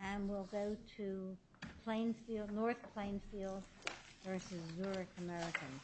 And we'll go to Plainfield, North Plainfield versus Zurich American.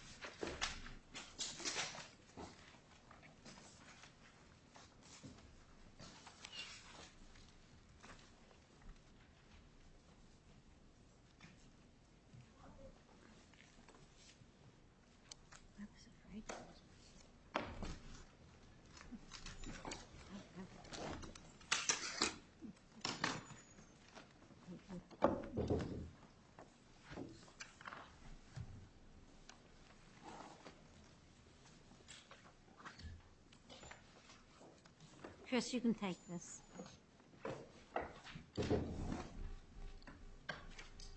Chris, you can take this.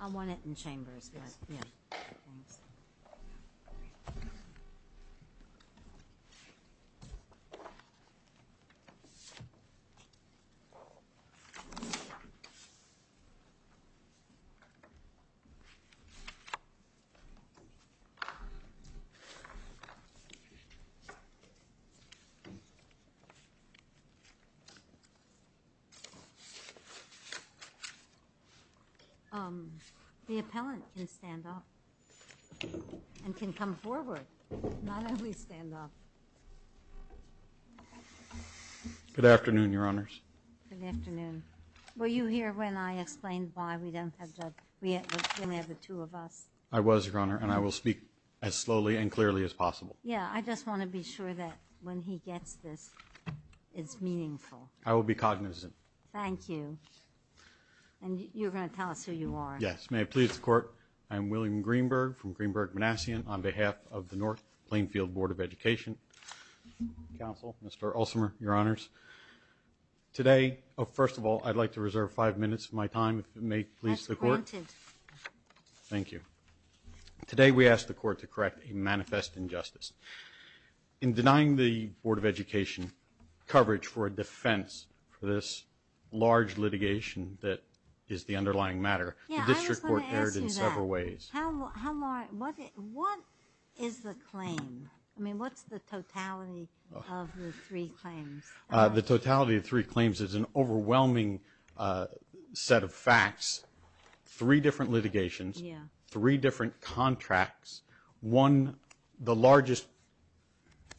I'll want it in Chambers, but, yeah, thanks. Good afternoon, Your Honors. Good afternoon. Were you here when I explained why we don't have the two of us? I was, Your Honor, and I will speak as slowly and clearly as possible. Yeah, I just want to be sure that when he gets this, it's meaningful. I will be cognizant. Thank you. And you're going to tell us who you are. Yes. May I please have the court? I'm William Greenberg from Greenberg-Manassian. On behalf of the North Plainfield Board of Education Council, Mr. Ulsamer, Your Honors, today, first of all, I'd like to reserve five minutes of my time if it may please the court. That's granted. Thank you. Today we ask the court to correct a manifest injustice. In denying the Board of Education coverage for a defense for this large litigation that is the underlying matter, the district court erred in several ways. What is the claim? I mean, what's the totality of the three claims? The totality of three claims is an overwhelming set of facts, three different litigations, three different contracts, one, the largest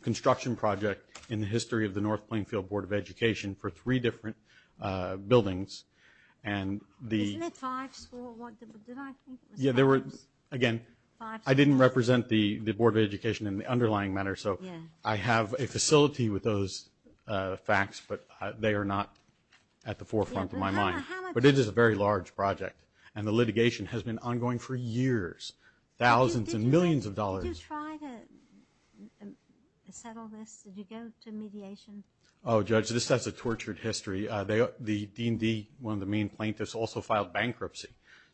construction project in the history of the North Plainfield Board of Education for three different buildings, Isn't it five schools? Again, I didn't represent the Board of Education in the underlying matter, so I have a facility with those facts, but they are not at the forefront of my mind. But it is a very large project, and the litigation has been ongoing for years, thousands and millions of dollars. Did you try to settle this? Did you go to mediation? Oh, Judge, this has a tortured history. The D&D, one of the main plaintiffs, also filed bankruptcy.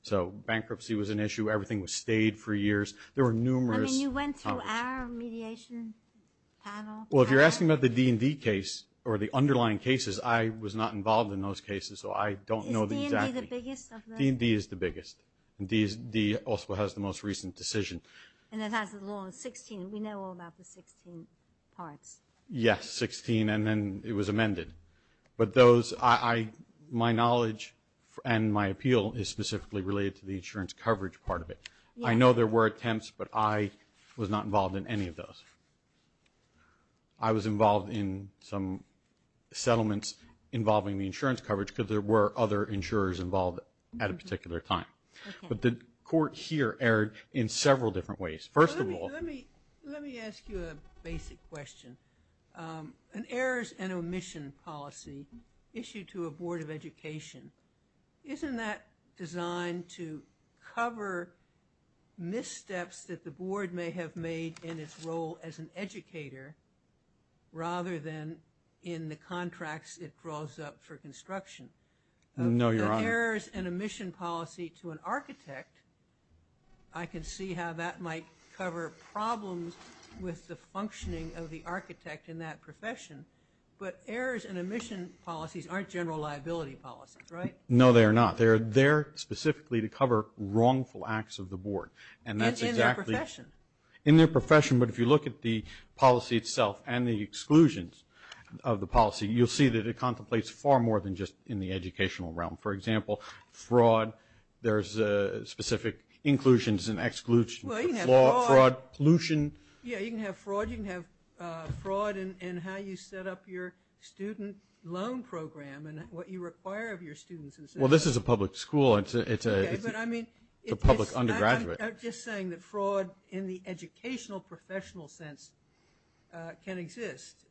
So bankruptcy was an issue. Everything was stayed for years. There were numerous – I mean, you went to our mediation panel? Well, if you're asking about the D&D case or the underlying cases, I was not involved in those cases, so I don't know the exact – Is D&D the biggest of the – D&D is the biggest, and D also has the most recent decision. And it has a law of 16. We know all about the 16 parts. Yes, 16, and then it was amended. But those – my knowledge and my appeal is specifically related to the insurance coverage part of it. I know there were attempts, but I was not involved in any of those. I was involved in some settlements involving the insurance coverage because there were other insurers involved at a particular time. But the court here erred in several different ways. First of all – Let me ask you a basic question. An errors and omission policy issued to a board of education, isn't that designed to cover missteps that the board may have made in its role as an educator rather than in the contracts it draws up for construction? No, Your Honor. The errors and omission policy to an architect, I can see how that might cover problems with the functioning of the architect in that profession. But errors and omission policies aren't general liability policies, right? No, they are not. They're there specifically to cover wrongful acts of the board. And that's exactly – In their profession. In their profession. But if you look at the policy itself and the exclusions of the policy, you'll see that it contemplates far more than just in the educational realm. For example, fraud. There's specific inclusions and exclusions. Well, you can have fraud. Fraud, pollution. Yeah, you can have fraud. You can have fraud in how you set up your student loan program and what you require of your students. Well, this is a public school. It's a public undergraduate. I'm just saying that fraud in the educational professional sense can exist.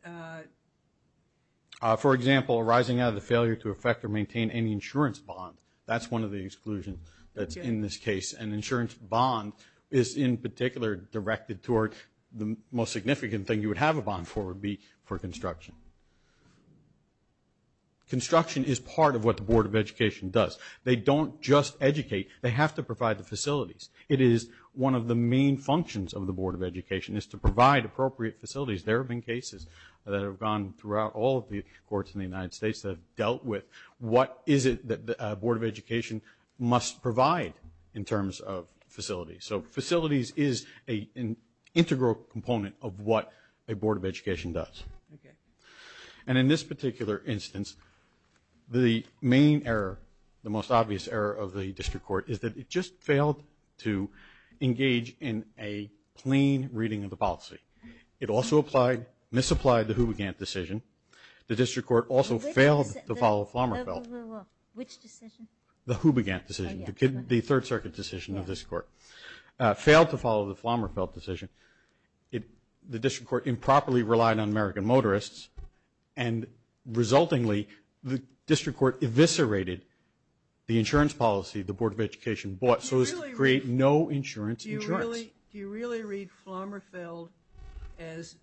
For example, arising out of the failure to affect or maintain any insurance bond. That's one of the exclusions that's in this case. And insurance bond is, in particular, directed toward the most significant thing you would have a bond for would be for construction. Construction is part of what the Board of Education does. They don't just educate. They have to provide the facilities. It is one of the main functions of the Board of Education is to provide appropriate facilities. There have been cases that have gone throughout all of the courts in the United States that have dealt with what is it that the Board of Education must provide in terms of facilities. So facilities is an integral component of what a Board of Education does. And in this particular instance, the main error, the most obvious error of the district court is that it just failed to engage in a plain reading of the policy. It also applied, misapplied the Hoobagant decision. The district court also failed to follow Flommerfeld. Which decision? The Hoobagant decision, the Third Circuit decision of this court. Failed to follow the Flommerfeld decision. The district court improperly relied on American motorists, and resultingly the district court eviscerated the insurance policy the Board of Education bought so as to create no insurance insurance. Do you really read Flommerfeld as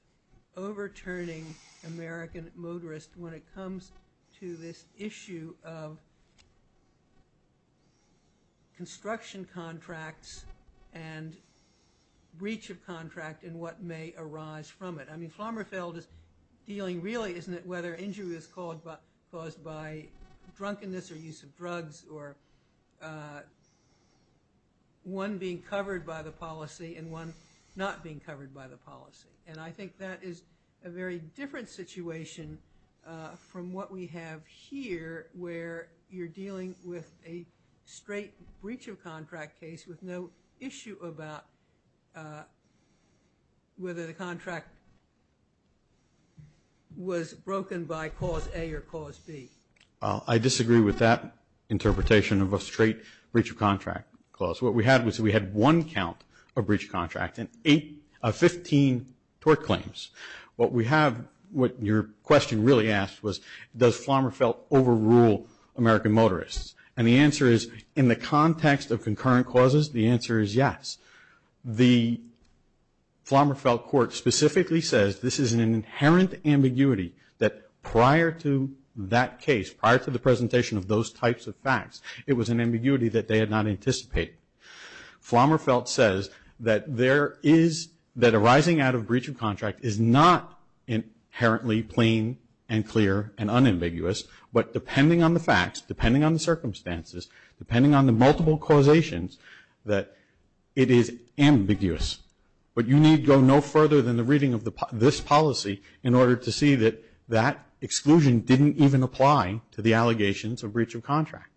overturning American motorists when it comes to this issue of construction contracts and breach of contract and what may arise from it? I mean, Flommerfeld is dealing really, isn't it, whether injury is caused by drunkenness or use of drugs or one being covered by the policy and one not being covered by the policy. And I think that is a very different situation from what we have here, where you're dealing with a straight breach of contract case with no issue about whether the contract was broken by cause A or cause B. I disagree with that interpretation of a straight breach of contract clause. What we had was we had one count of breach of contract and 15 tort claims. What we have, what your question really asked was, does Flommerfeld overrule American motorists? And the answer is, in the context of concurrent causes, the answer is yes. The Flommerfeld court specifically says this is an inherent ambiguity that prior to that case, prior to the presentation of those types of facts, it was an ambiguity that they had not anticipated. Flommerfeld says that there is, that arising out of breach of contract is not inherently plain and clear and unambiguous, but depending on the facts, depending on the circumstances, depending on the multiple causations, that it is ambiguous. But you need go no further than the reading of this policy in order to see that that exclusion didn't even apply to the allegations of breach of contract.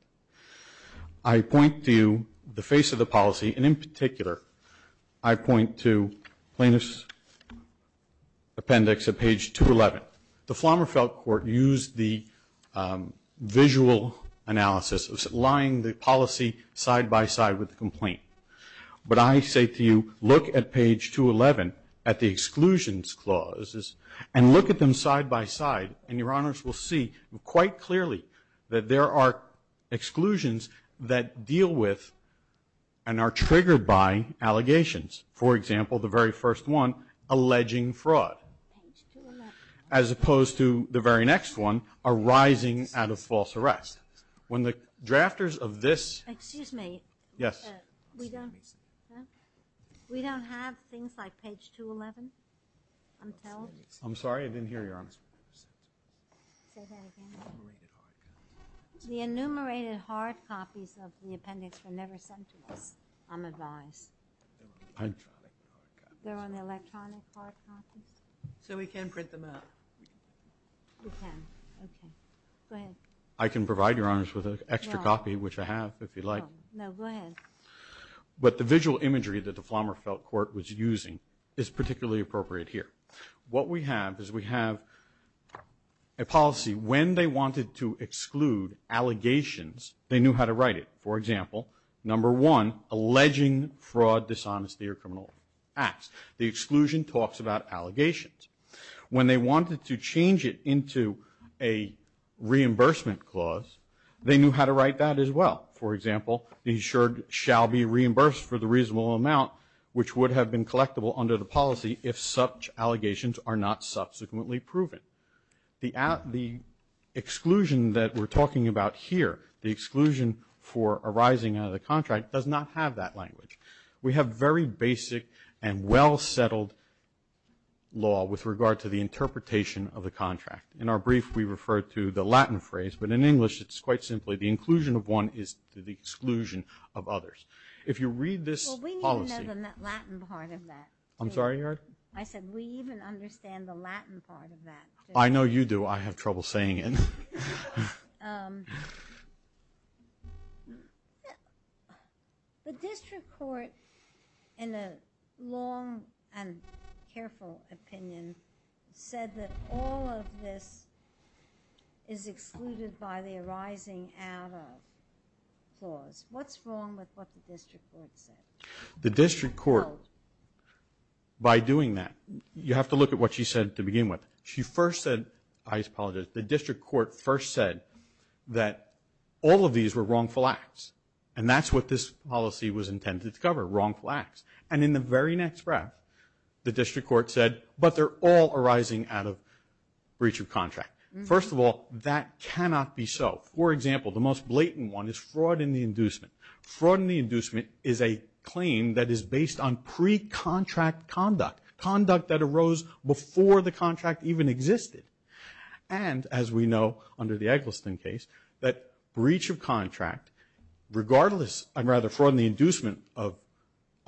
I point to the face of the policy, and in particular, I point to plaintiff's appendix at page 211. The Flommerfeld court used the visual analysis of lying the policy side-by-side with the complaint. But I say to you, look at page 211 at the exclusions clauses and look at them side-by-side, and your honors will see quite clearly that there are exclusions that deal with and are triggered by allegations. For example, the very first one, alleging fraud. As opposed to the very next one, arising out of false arrest. When the drafters of this- Excuse me. Yes. We don't have things like page 211 until- I'm sorry, I didn't hear you, Your Honor. Say that again. The enumerated hard copies of the appendix were never sent to us, I'm advised. They're on the electronic hard copies? So we can print them out? We can. Okay. Go ahead. I can provide your honors with an extra copy, which I have, if you'd like. No, go ahead. But the visual imagery that the Flommerfeld court was using is particularly appropriate here. What we have is we have a policy, when they wanted to exclude allegations, they knew how to write it. For example, number one, alleging fraud, dishonesty, or criminal acts. The exclusion talks about allegations. When they wanted to change it into a reimbursement clause, they knew how to write that as well. For example, the insured shall be reimbursed for the reasonable amount, which would have been collectible under the policy if such allegations are not subsequently proven. The exclusion that we're talking about here, the exclusion for arising out of the contract, does not have that language. We have very basic and well-settled law with regard to the interpretation of the contract. In our brief, we refer to the Latin phrase, but in English, it's quite simply, the inclusion of one is the exclusion of others. If you read this policy – Well, we need to know the Latin part of that. I'm sorry, Your Honor? I said, we even understand the Latin part of that. I know you do. I have trouble saying it. The district court, in a long and careful opinion, said that all of this is excluded by the arising out of clause. What's wrong with what the district court said? The district court, by doing that, you have to look at what she said to begin with. She first said – I apologize. The district court first said that all of these were wrongful acts, and that's what this policy was intended to cover, wrongful acts. And in the very next breath, the district court said, but they're all arising out of breach of contract. First of all, that cannot be so. For example, the most blatant one is fraud in the inducement. Fraud in the inducement is a claim that is based on pre-contract conduct, conduct that arose before the contract even existed. And, as we know, under the Eggleston case, that breach of contract, regardless – or rather, fraud in the inducement of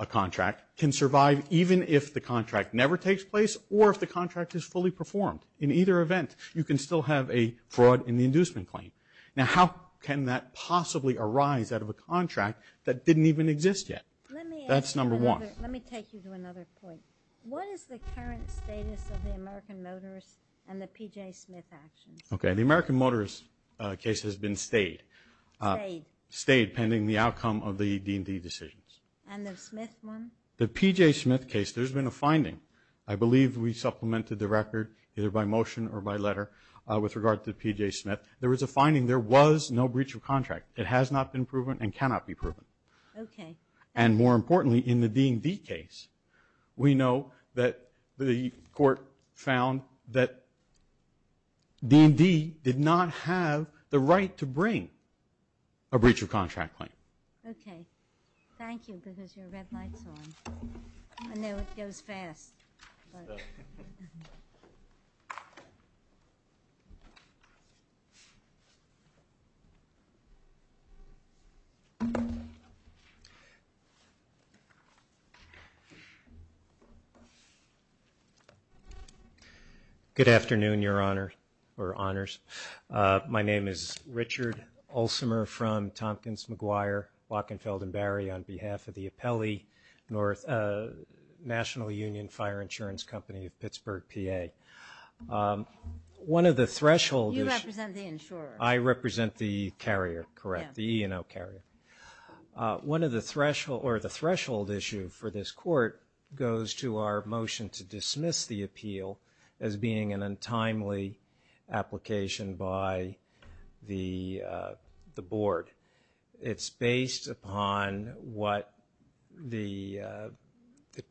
a contract, can survive even if the contract never takes place or if the contract is fully performed. In either event, you can still have a fraud in the inducement claim. Now, how can that possibly arise out of a contract that didn't even exist yet? That's number one. Let me take you to another point. What is the current status of the American Motorist and the PJ Smith actions? Okay. The American Motorist case has been stayed. Stayed. Stayed, pending the outcome of the D&D decisions. And the Smith one? The PJ Smith case, there's been a finding. I believe we supplemented the record either by motion or by letter with regard to PJ Smith. There was a finding. There was no breach of contract. It has not been proven and cannot be proven. Okay. And, more importantly, in the D&D case, we know that the court found that D&D did not have the right to bring a breach of contract claim. Okay. Thank you, because your red light's on. I know it goes fast. All right. Good afternoon, Your Honor, or Honors. My name is Richard Olsemer from Tompkins, McGuire, Wachenfeld, and Barry, on behalf of the Apelli National Union Fire Insurance Company of Pittsburgh, PA. One of the thresholds – You represent the insurer. I represent the carrier, correct, the E&O carrier. One of the threshold – or the threshold issue for this court goes to our motion to dismiss the appeal as being an untimely application by the board. It's based upon what the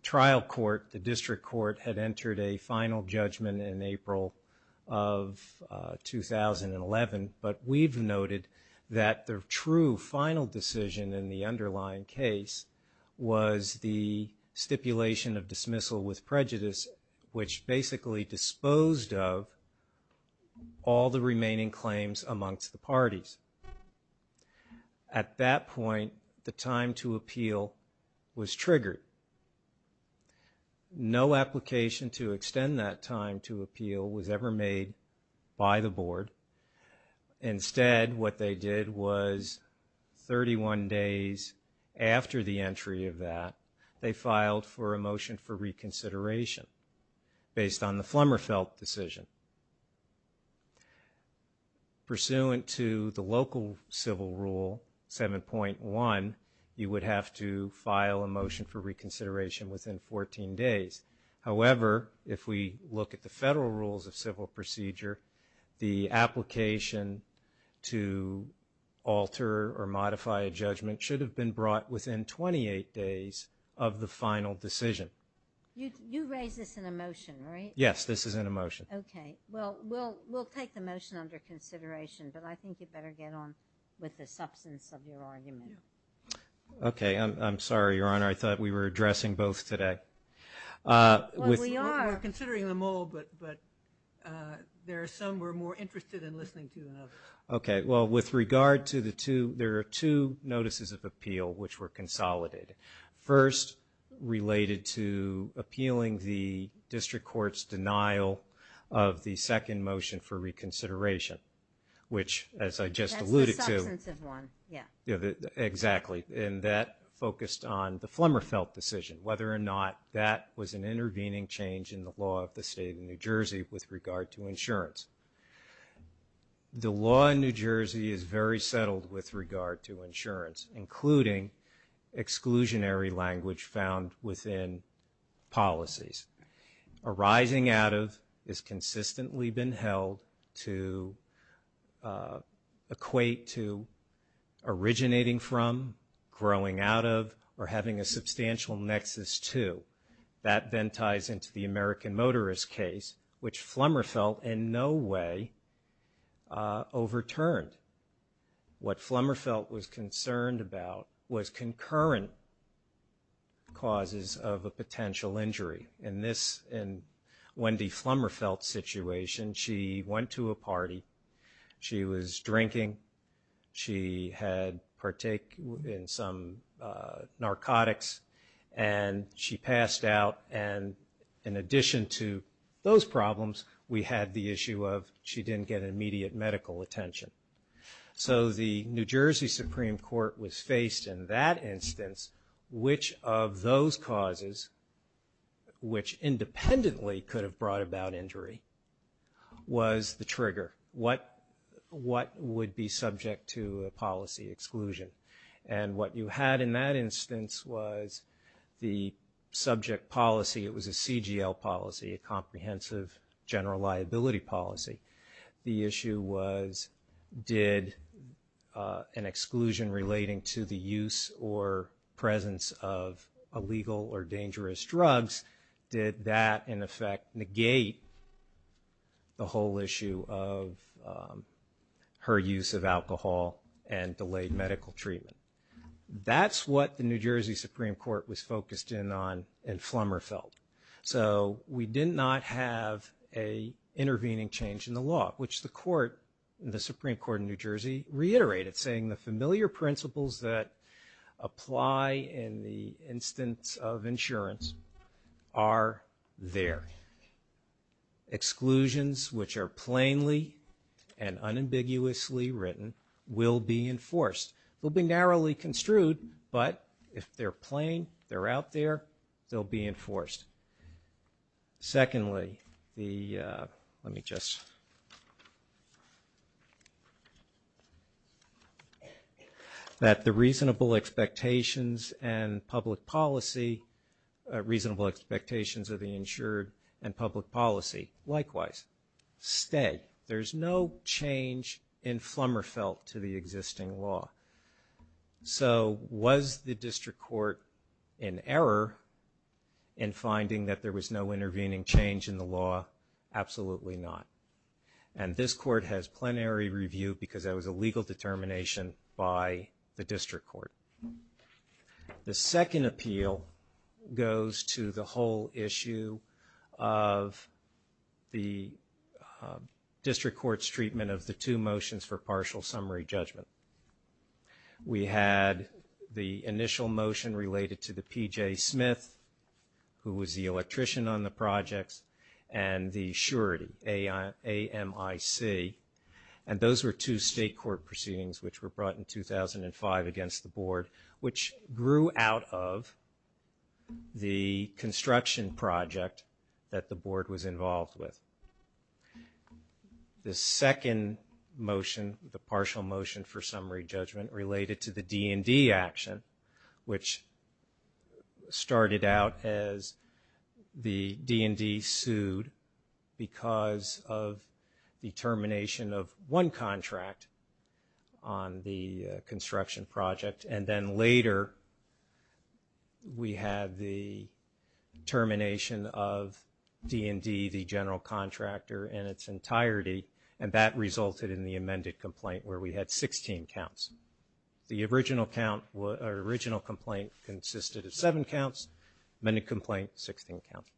trial court, the district court, had entered a final judgment in April of 2011, but we've noted that the true final decision in the underlying case was the stipulation of dismissal with prejudice, which basically disposed of all the remaining claims amongst the parties. At that point, the time to appeal was triggered. No application to extend that time to appeal was ever made by the board. Instead, what they did was 31 days after the entry of that, they filed for a motion for reconsideration based on the Flummerfeld decision. Pursuant to the local civil rule 7.1, you would have to file a motion for reconsideration within 14 days. However, if we look at the federal rules of civil procedure, the application to alter or modify a judgment should have been brought within 28 days of the final decision. You raised this in a motion, right? Yes, this is in a motion. Okay. Well, we'll take the motion under consideration, but I think you better get on with the substance of your argument. Okay. I'm sorry, Your Honor. I thought we were addressing both today. Well, we are. We're considering them all, but there are some we're more interested in listening to than others. Okay. Well, with regard to the two, there are two notices of appeal which were consolidated. First, related to appealing the district court's denial of the second motion for reconsideration, which, as I just alluded to. That's the substantive one. Yeah. Exactly. And that focused on the Flummerfeld decision, whether or not that was an intervening change in the law of the state of New Jersey with regard to insurance. The law in New Jersey is very settled with regard to insurance, including exclusionary language found within policies. Arising out of has consistently been held to equate to originating from, growing out of, or having a substantial nexus to. That then ties into the American motorist case, which Flummerfeld in no way overturned. What Flummerfeld was concerned about was concurrent causes of a potential injury. In this, in Wendy Flummerfeld's situation, she went to a party. She was drinking. She had partake in some narcotics, and she passed out. In addition to those problems, we had the issue of she didn't get immediate medical attention. The New Jersey Supreme Court was faced in that instance, which of those causes, which independently could have brought about injury, was the trigger. What would be subject to a policy exclusion? What you had in that instance was the subject policy. It was a CGL policy, a comprehensive general liability policy. The issue was did an exclusion relating to the use or presence of illegal or dangerous drugs, did that in effect negate the whole issue of her use of alcohol and delayed medical treatment? That's what the New Jersey Supreme Court was focused in on in Flummerfeld. We did not have an intervening change in the law, which the Supreme Court in New Jersey reiterated, saying the familiar principles that apply in the instance of insurance are there. Exclusions which are plainly and unambiguously written will be enforced. They'll be narrowly construed, but if they're plain, they're out there, they'll be enforced. Secondly, that the reasonable expectations of the insured and public policy likewise stay. There's no change in Flummerfeld to the existing law. Was the district court in error in finding that there was no intervening change in the law? Absolutely not. This court has plenary review because that was a legal determination by the district court. The second appeal goes to the whole issue of the district court's treatment of the two motions for partial summary judgment. We had the initial motion related to the PJ Smith, who was the electrician on the projects, and the surety, AMIC. Those were two state court proceedings which were brought in 2005 against the board, which grew out of the construction project that the board was involved with. The second motion, the partial motion for summary judgment, related to the D&D action, which started out as the D&D sued because of the termination of one contract on the construction project, and then later we had the termination of D&D, the general contractor, in its entirety, and that resulted in the amended complaint where we had 16 counts. The original complaint consisted of seven counts, amended complaint, 16 counts.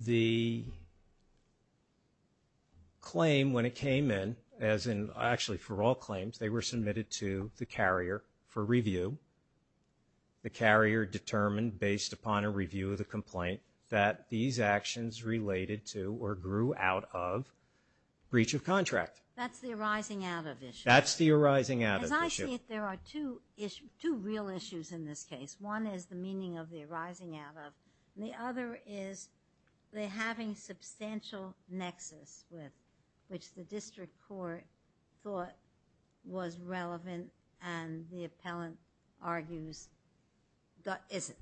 The claim, when it came in, as in actually for all claims, they were submitted to the carrier for review. The carrier determined, based upon a review of the complaint, that these actions related to or grew out of breach of contract. That's the arising out of issue. That's the arising out of issue. As I see it, there are two real issues in this case. One is the meaning of the arising out of, and the other is they're having substantial nexus with, which the district court thought was relevant, and the appellant argues that isn't.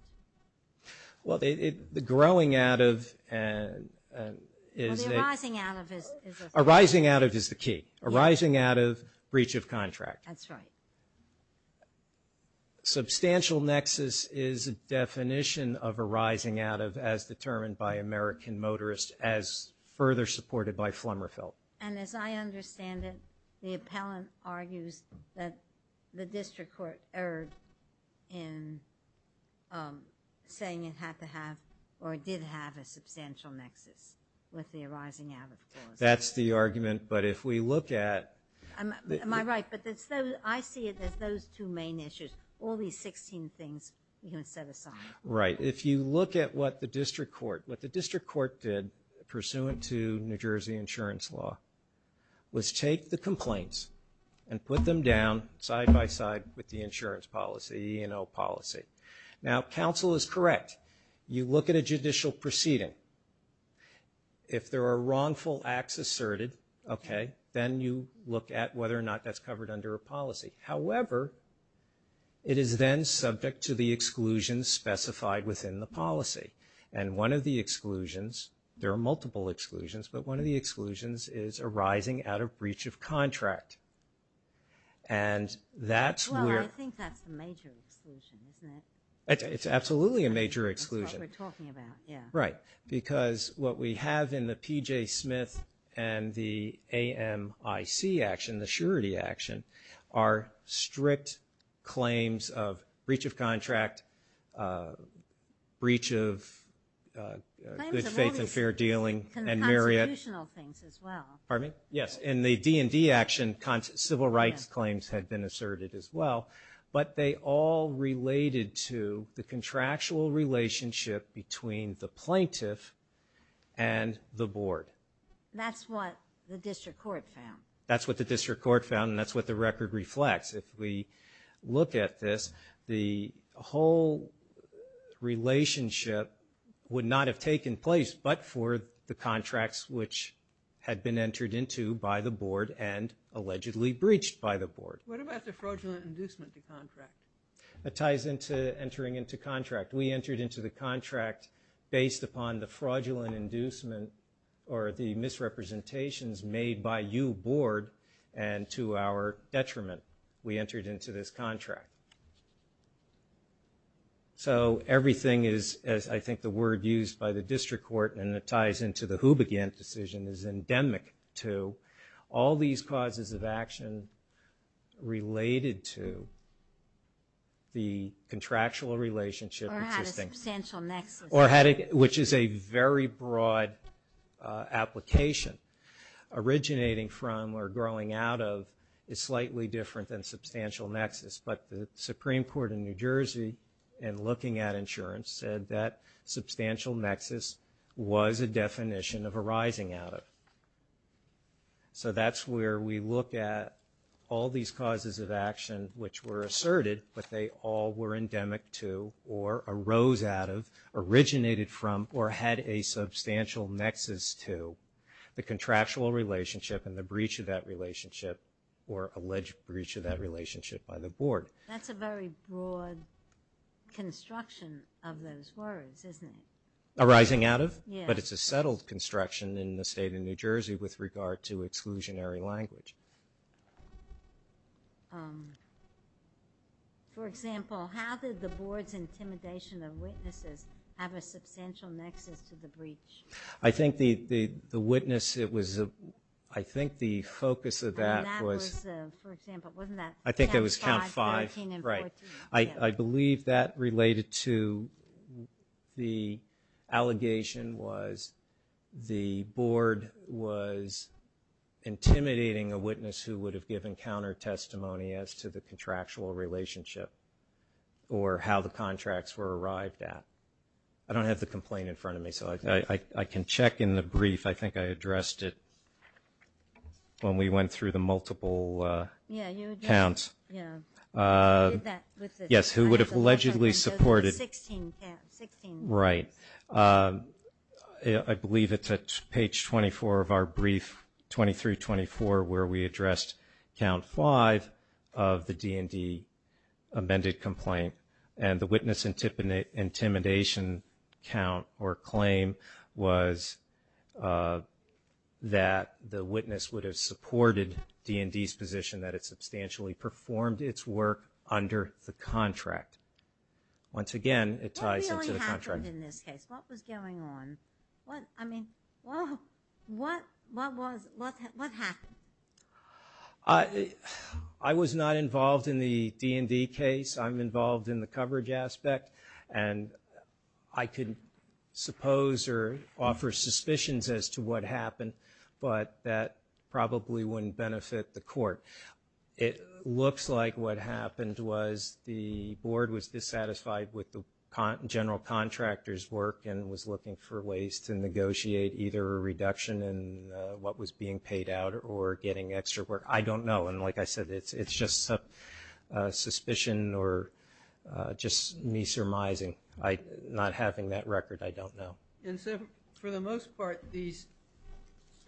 Well, the growing out of is a... Well, the arising out of is a... Arising out of is the key. Arising out of breach of contract. That's right. Substantial nexus is a definition of arising out of as determined by American Motorist, as further supported by Flummerfeld. And as I understand it, the appellant argues that the district court erred in saying it had to have or did have a substantial nexus with the arising out of clause. That's the argument, but if we look at... Am I right? But I see it as those two main issues. All these 16 things you can set aside. Right. If you look at what the district court did, pursuant to New Jersey insurance law, was take the complaints and put them down side by side with the insurance policy, E&O policy. Now, counsel is correct. You look at a judicial proceeding. If there are wrongful acts asserted, then you look at whether or not that's covered under a policy. However, it is then subject to the exclusions specified within the policy. And one of the exclusions, there are multiple exclusions, but one of the exclusions is arising out of breach of contract. And that's where... Well, I think that's the major exclusion, isn't it? It's absolutely a major exclusion. That's what we're talking about, yeah. Right. Because what we have in the PJ Smith and the AMIC action, the surety action, are strict claims of breach of contract, breach of good faith and fair dealing, and myriad... And the constitutional things as well. Pardon me? Yes. In the D&D action, civil rights claims had been asserted as well, but they all related to the contractual relationship between the plaintiff and the board. That's what the district court found. That's what the district court found, and that's what the record reflects. If we look at this, the whole relationship would not have taken place but for the contracts which had been entered into by the board and allegedly breached by the board. What about the fraudulent inducement to contract? That ties into entering into contract. We entered into the contract based upon the fraudulent inducement or the misrepresentations made by you, board, and to our detriment. We entered into this contract. So everything is, as I think the word used by the district court, and it ties into the Who Began decision, is endemic to all these causes of action related to the contractual relationship. Or had a substantial nexus. Which is a very broad application. Originating from or growing out of is slightly different than substantial nexus, but the Supreme Court in New Jersey, in looking at insurance, said that substantial nexus was a definition of arising out of. So that's where we look at all these causes of action which were asserted, but they all were endemic to or arose out of, originated from or had a substantial nexus to the contractual relationship and the breach of that relationship or alleged breach of that relationship by the board. That's a very broad construction of those words, isn't it? Arising out of? Yeah. But it's a settled construction in the state of New Jersey with regard to exclusionary language. For example, how did the board's intimidation of witnesses have a substantial nexus to the breach? I think the witness, it was, I think the focus of that was. I think it was count five. Right. I believe that related to the allegation was the board was intimidating a witness who would have given counter testimony as to the contractual relationship or how the contracts were arrived at. I don't have the complaint in front of me, so I can check in the brief. I think I addressed it when we went through the multiple counts. Yeah, you addressed it. Yeah. You did that with the. Yes, who would have allegedly supported. The 16 count, 16. Right. I believe it's at page 24 of our brief, 23-24, where we addressed count five of the D&D amended complaint. And the witness intimidation count or claim was that the witness would have supported D&D's position that it substantially performed its work under the contract. Once again, it ties into the contract. What really happened in this case? What was going on? I mean, what happened? I was not involved in the D&D case. I'm involved in the coverage aspect, and I could suppose or offer suspicions as to what happened, but that probably wouldn't benefit the court. It looks like what happened was the board was dissatisfied with the general contractor's work and was looking for ways to negotiate either a reduction in what was being paid out or getting extra work. I don't know, and like I said, it's just a suspicion or just me surmising. Not having that record, I don't know. For the most part, these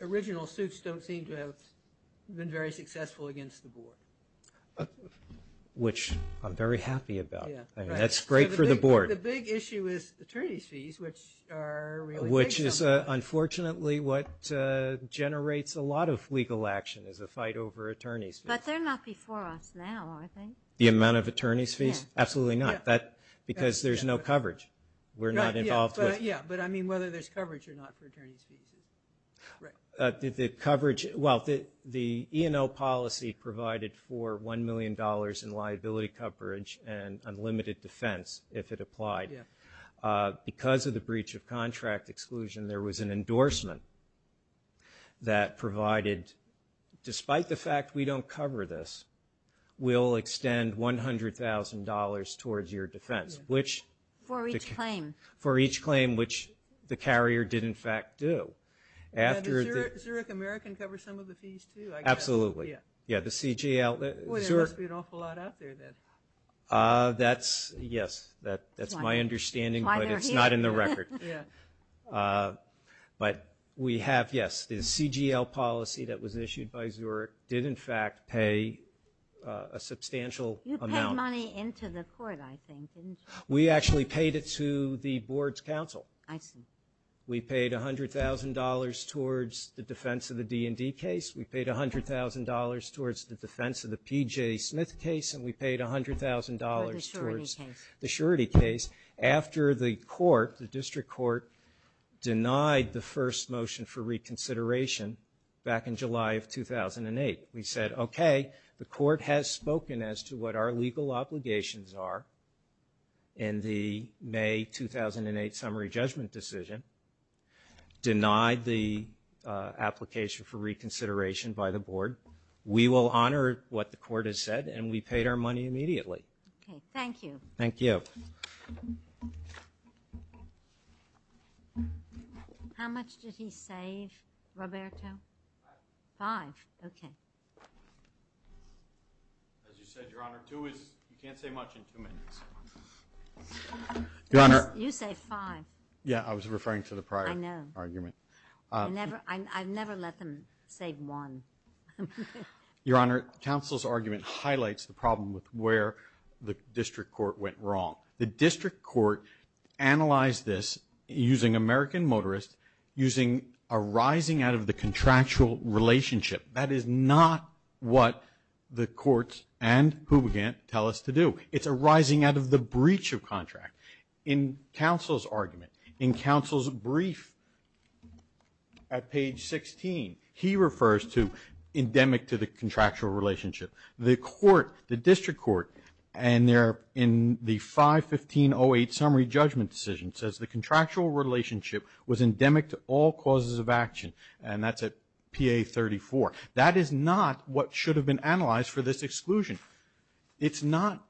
original suits don't seem to have been very successful against the board. Which I'm very happy about. That's great for the board. The big issue is attorney's fees, which are really big. Which is unfortunately what generates a lot of legal action is a fight over attorney's fees. But they're not before us now, I think. The amount of attorney's fees? Yeah. Absolutely not, because there's no coverage. We're not involved with it. Yeah, but I mean whether there's coverage or not for attorney's fees. The coverage, well, the E&O policy provided for $1 million in liability coverage and unlimited defense if it applied. Because of the breach of contract exclusion, there was an endorsement that provided, despite the fact we don't cover this, we'll extend $100,000 towards your defense. For each claim. For each claim, which the carrier did in fact do. The Zurich American covers some of the fees too, I guess. Absolutely. Yeah, the CGL. There must be an awful lot out there then. That's, yes, that's my understanding, but it's not in the record. But we have, yes, the CGL policy that was issued by Zurich did in fact pay a substantial amount. You paid money into the court, I think, didn't you? We actually paid it to the board's counsel. I see. We paid $100,000 towards the defense of the D&D case. We paid $100,000 towards the defense of the PJ Smith case. And we paid $100,000 towards the surety case. After the court, the district court, denied the first motion for reconsideration back in July of 2008. We said, okay, the court has spoken as to what our legal obligations are in the May 2008 summary judgment decision. Denied the application for reconsideration by the board. We will honor what the court has said, and we paid our money immediately. Okay, thank you. Thank you. How much did he save, Roberto? Five. Five, okay. As you said, Your Honor, two is, you can't say much in two minutes. Your Honor. You said five. Yeah, I was referring to the prior argument. I know. Your Honor, counsel's argument highlights the problem with where the district court went wrong. The district court analyzed this using American Motorist, using a rising out of the contractual relationship. That is not what the courts and Hoobagant tell us to do. It's a rising out of the breach of contract. In counsel's argument, in counsel's brief at page 16, he refers to endemic to the contractual relationship. The court, the district court, and they're in the 5-15-08 summary judgment decision, says the contractual relationship was endemic to all causes of action, and that's at PA 34. That is not what should have been analyzed for this exclusion. It's not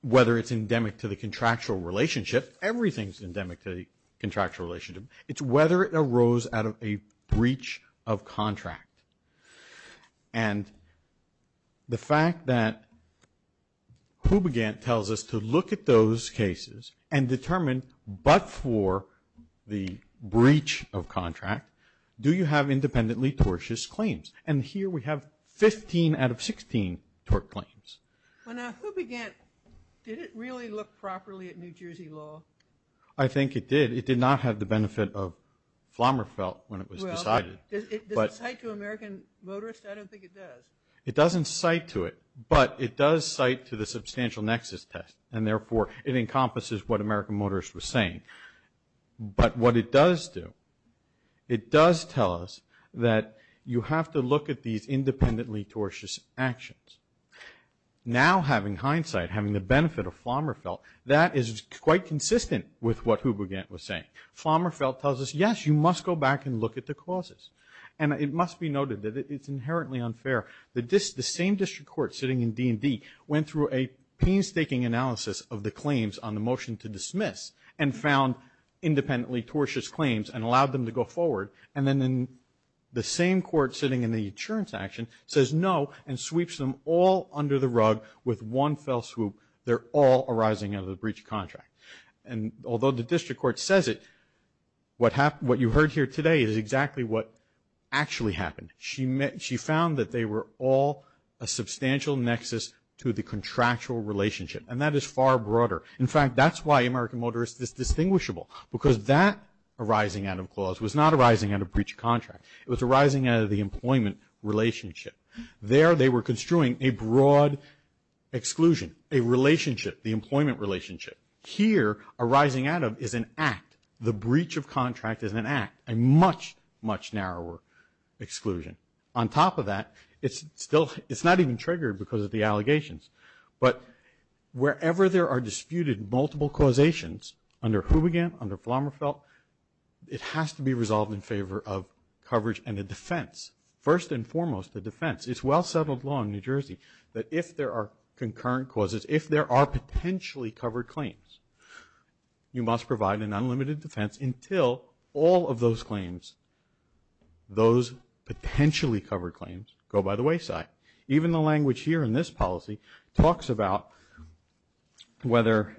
whether it's endemic to the contractual relationship. Everything's endemic to the contractual relationship. It's whether it arose out of a breach of contract. And the fact that Hoobagant tells us to look at those cases and determine but for the breach of contract, do you have independently tortious claims? And here we have 15 out of 16 tort claims. Now, Hoobagant, did it really look properly at New Jersey law? I think it did. It did not have the benefit of Flommerfelt when it was decided. Does it cite to American Motorist? I don't think it does. It doesn't cite to it, but it does cite to the substantial nexus test, and therefore it encompasses what American Motorist was saying. But what it does do, it does tell us that you have to look at these independently tortious actions. Now, having hindsight, having the benefit of Flommerfelt, that is quite consistent with what Hoobagant was saying. Flommerfelt tells us, yes, you must go back and look at the causes. And it must be noted that it's inherently unfair. The same district court sitting in D&D went through a painstaking analysis of the claims on the motion to dismiss and found independently tortious claims and allowed them to go forward. And then the same court sitting in the insurance action says no and sweeps them all under the rug with one fell swoop. They're all arising out of the breach of contract. And although the district court says it, what you heard here today is exactly what actually happened. She found that they were all a substantial nexus to the contractual relationship, and that is far broader. In fact, that's why American Motorist is distinguishable, because that arising out of clause was not arising out of breach of contract. It was arising out of the employment relationship. There they were construing a broad exclusion, a relationship, the employment relationship. Here, arising out of is an act. The breach of contract is an act, a much, much narrower exclusion. On top of that, it's not even triggered because of the allegations. But wherever there are disputed multiple causations under Hoobegan, under Flommerfelt, it has to be resolved in favor of coverage and a defense, first and foremost a defense. It's well-settled law in New Jersey that if there are concurrent causes, if there are potentially covered claims, you must provide an unlimited defense until all of those claims, those potentially covered claims, go by the wayside. Even the language here in this policy talks about whether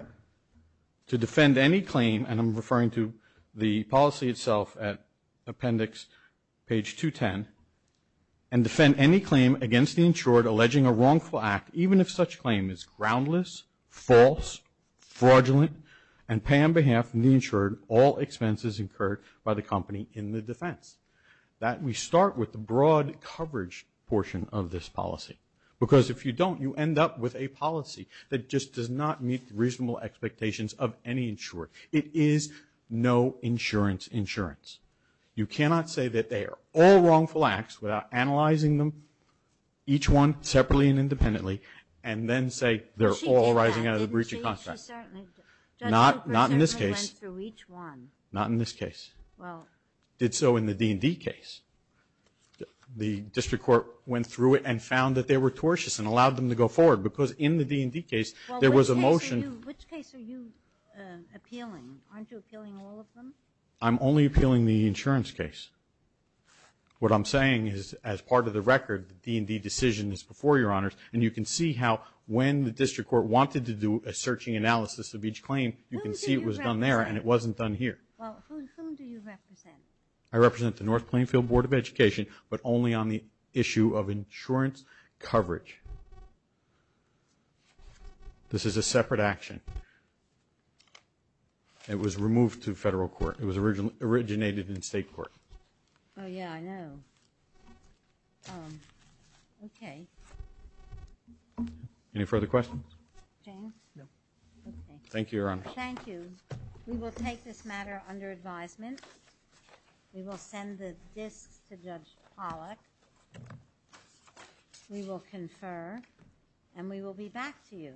to defend any claim, and I'm referring to the policy itself at appendix page 210, and defend any claim against the insured alleging a wrongful act, even if such claim is groundless, false, fraudulent, and pay on behalf of the insured, all expenses incurred by the company in the defense. We start with the broad coverage portion of this policy because if you don't, you end up with a policy that just does not meet the reasonable expectations of any insurer. It is no insurance insurance. You cannot say that they are all wrongful acts without analyzing them, each one separately and independently, and then say they're all rising out of the breach of contract. Not in this case. Not in this case. Well. Did so in the D&D case. The district court went through it and found that they were tortious and allowed them to go forward because in the D&D case there was a motion. Well, which case are you appealing? Aren't you appealing all of them? I'm only appealing the insurance case. What I'm saying is as part of the record, the D&D decision is before Your Honors, and you can see how when the district court wanted to do a searching analysis of each claim, you can see it was done there and it wasn't done here. Well, whom do you represent? I represent the North Plainfield Board of Education, but only on the issue of insurance coverage. This is a separate action. It was removed to federal court. It was originated in state court. Oh, yeah, I know. Any further questions? James? No. Okay. Thank you, Your Honor. Thank you. We will take this matter under advisement. We will send the disks to Judge Pollack. We will confer, and we will be back to you.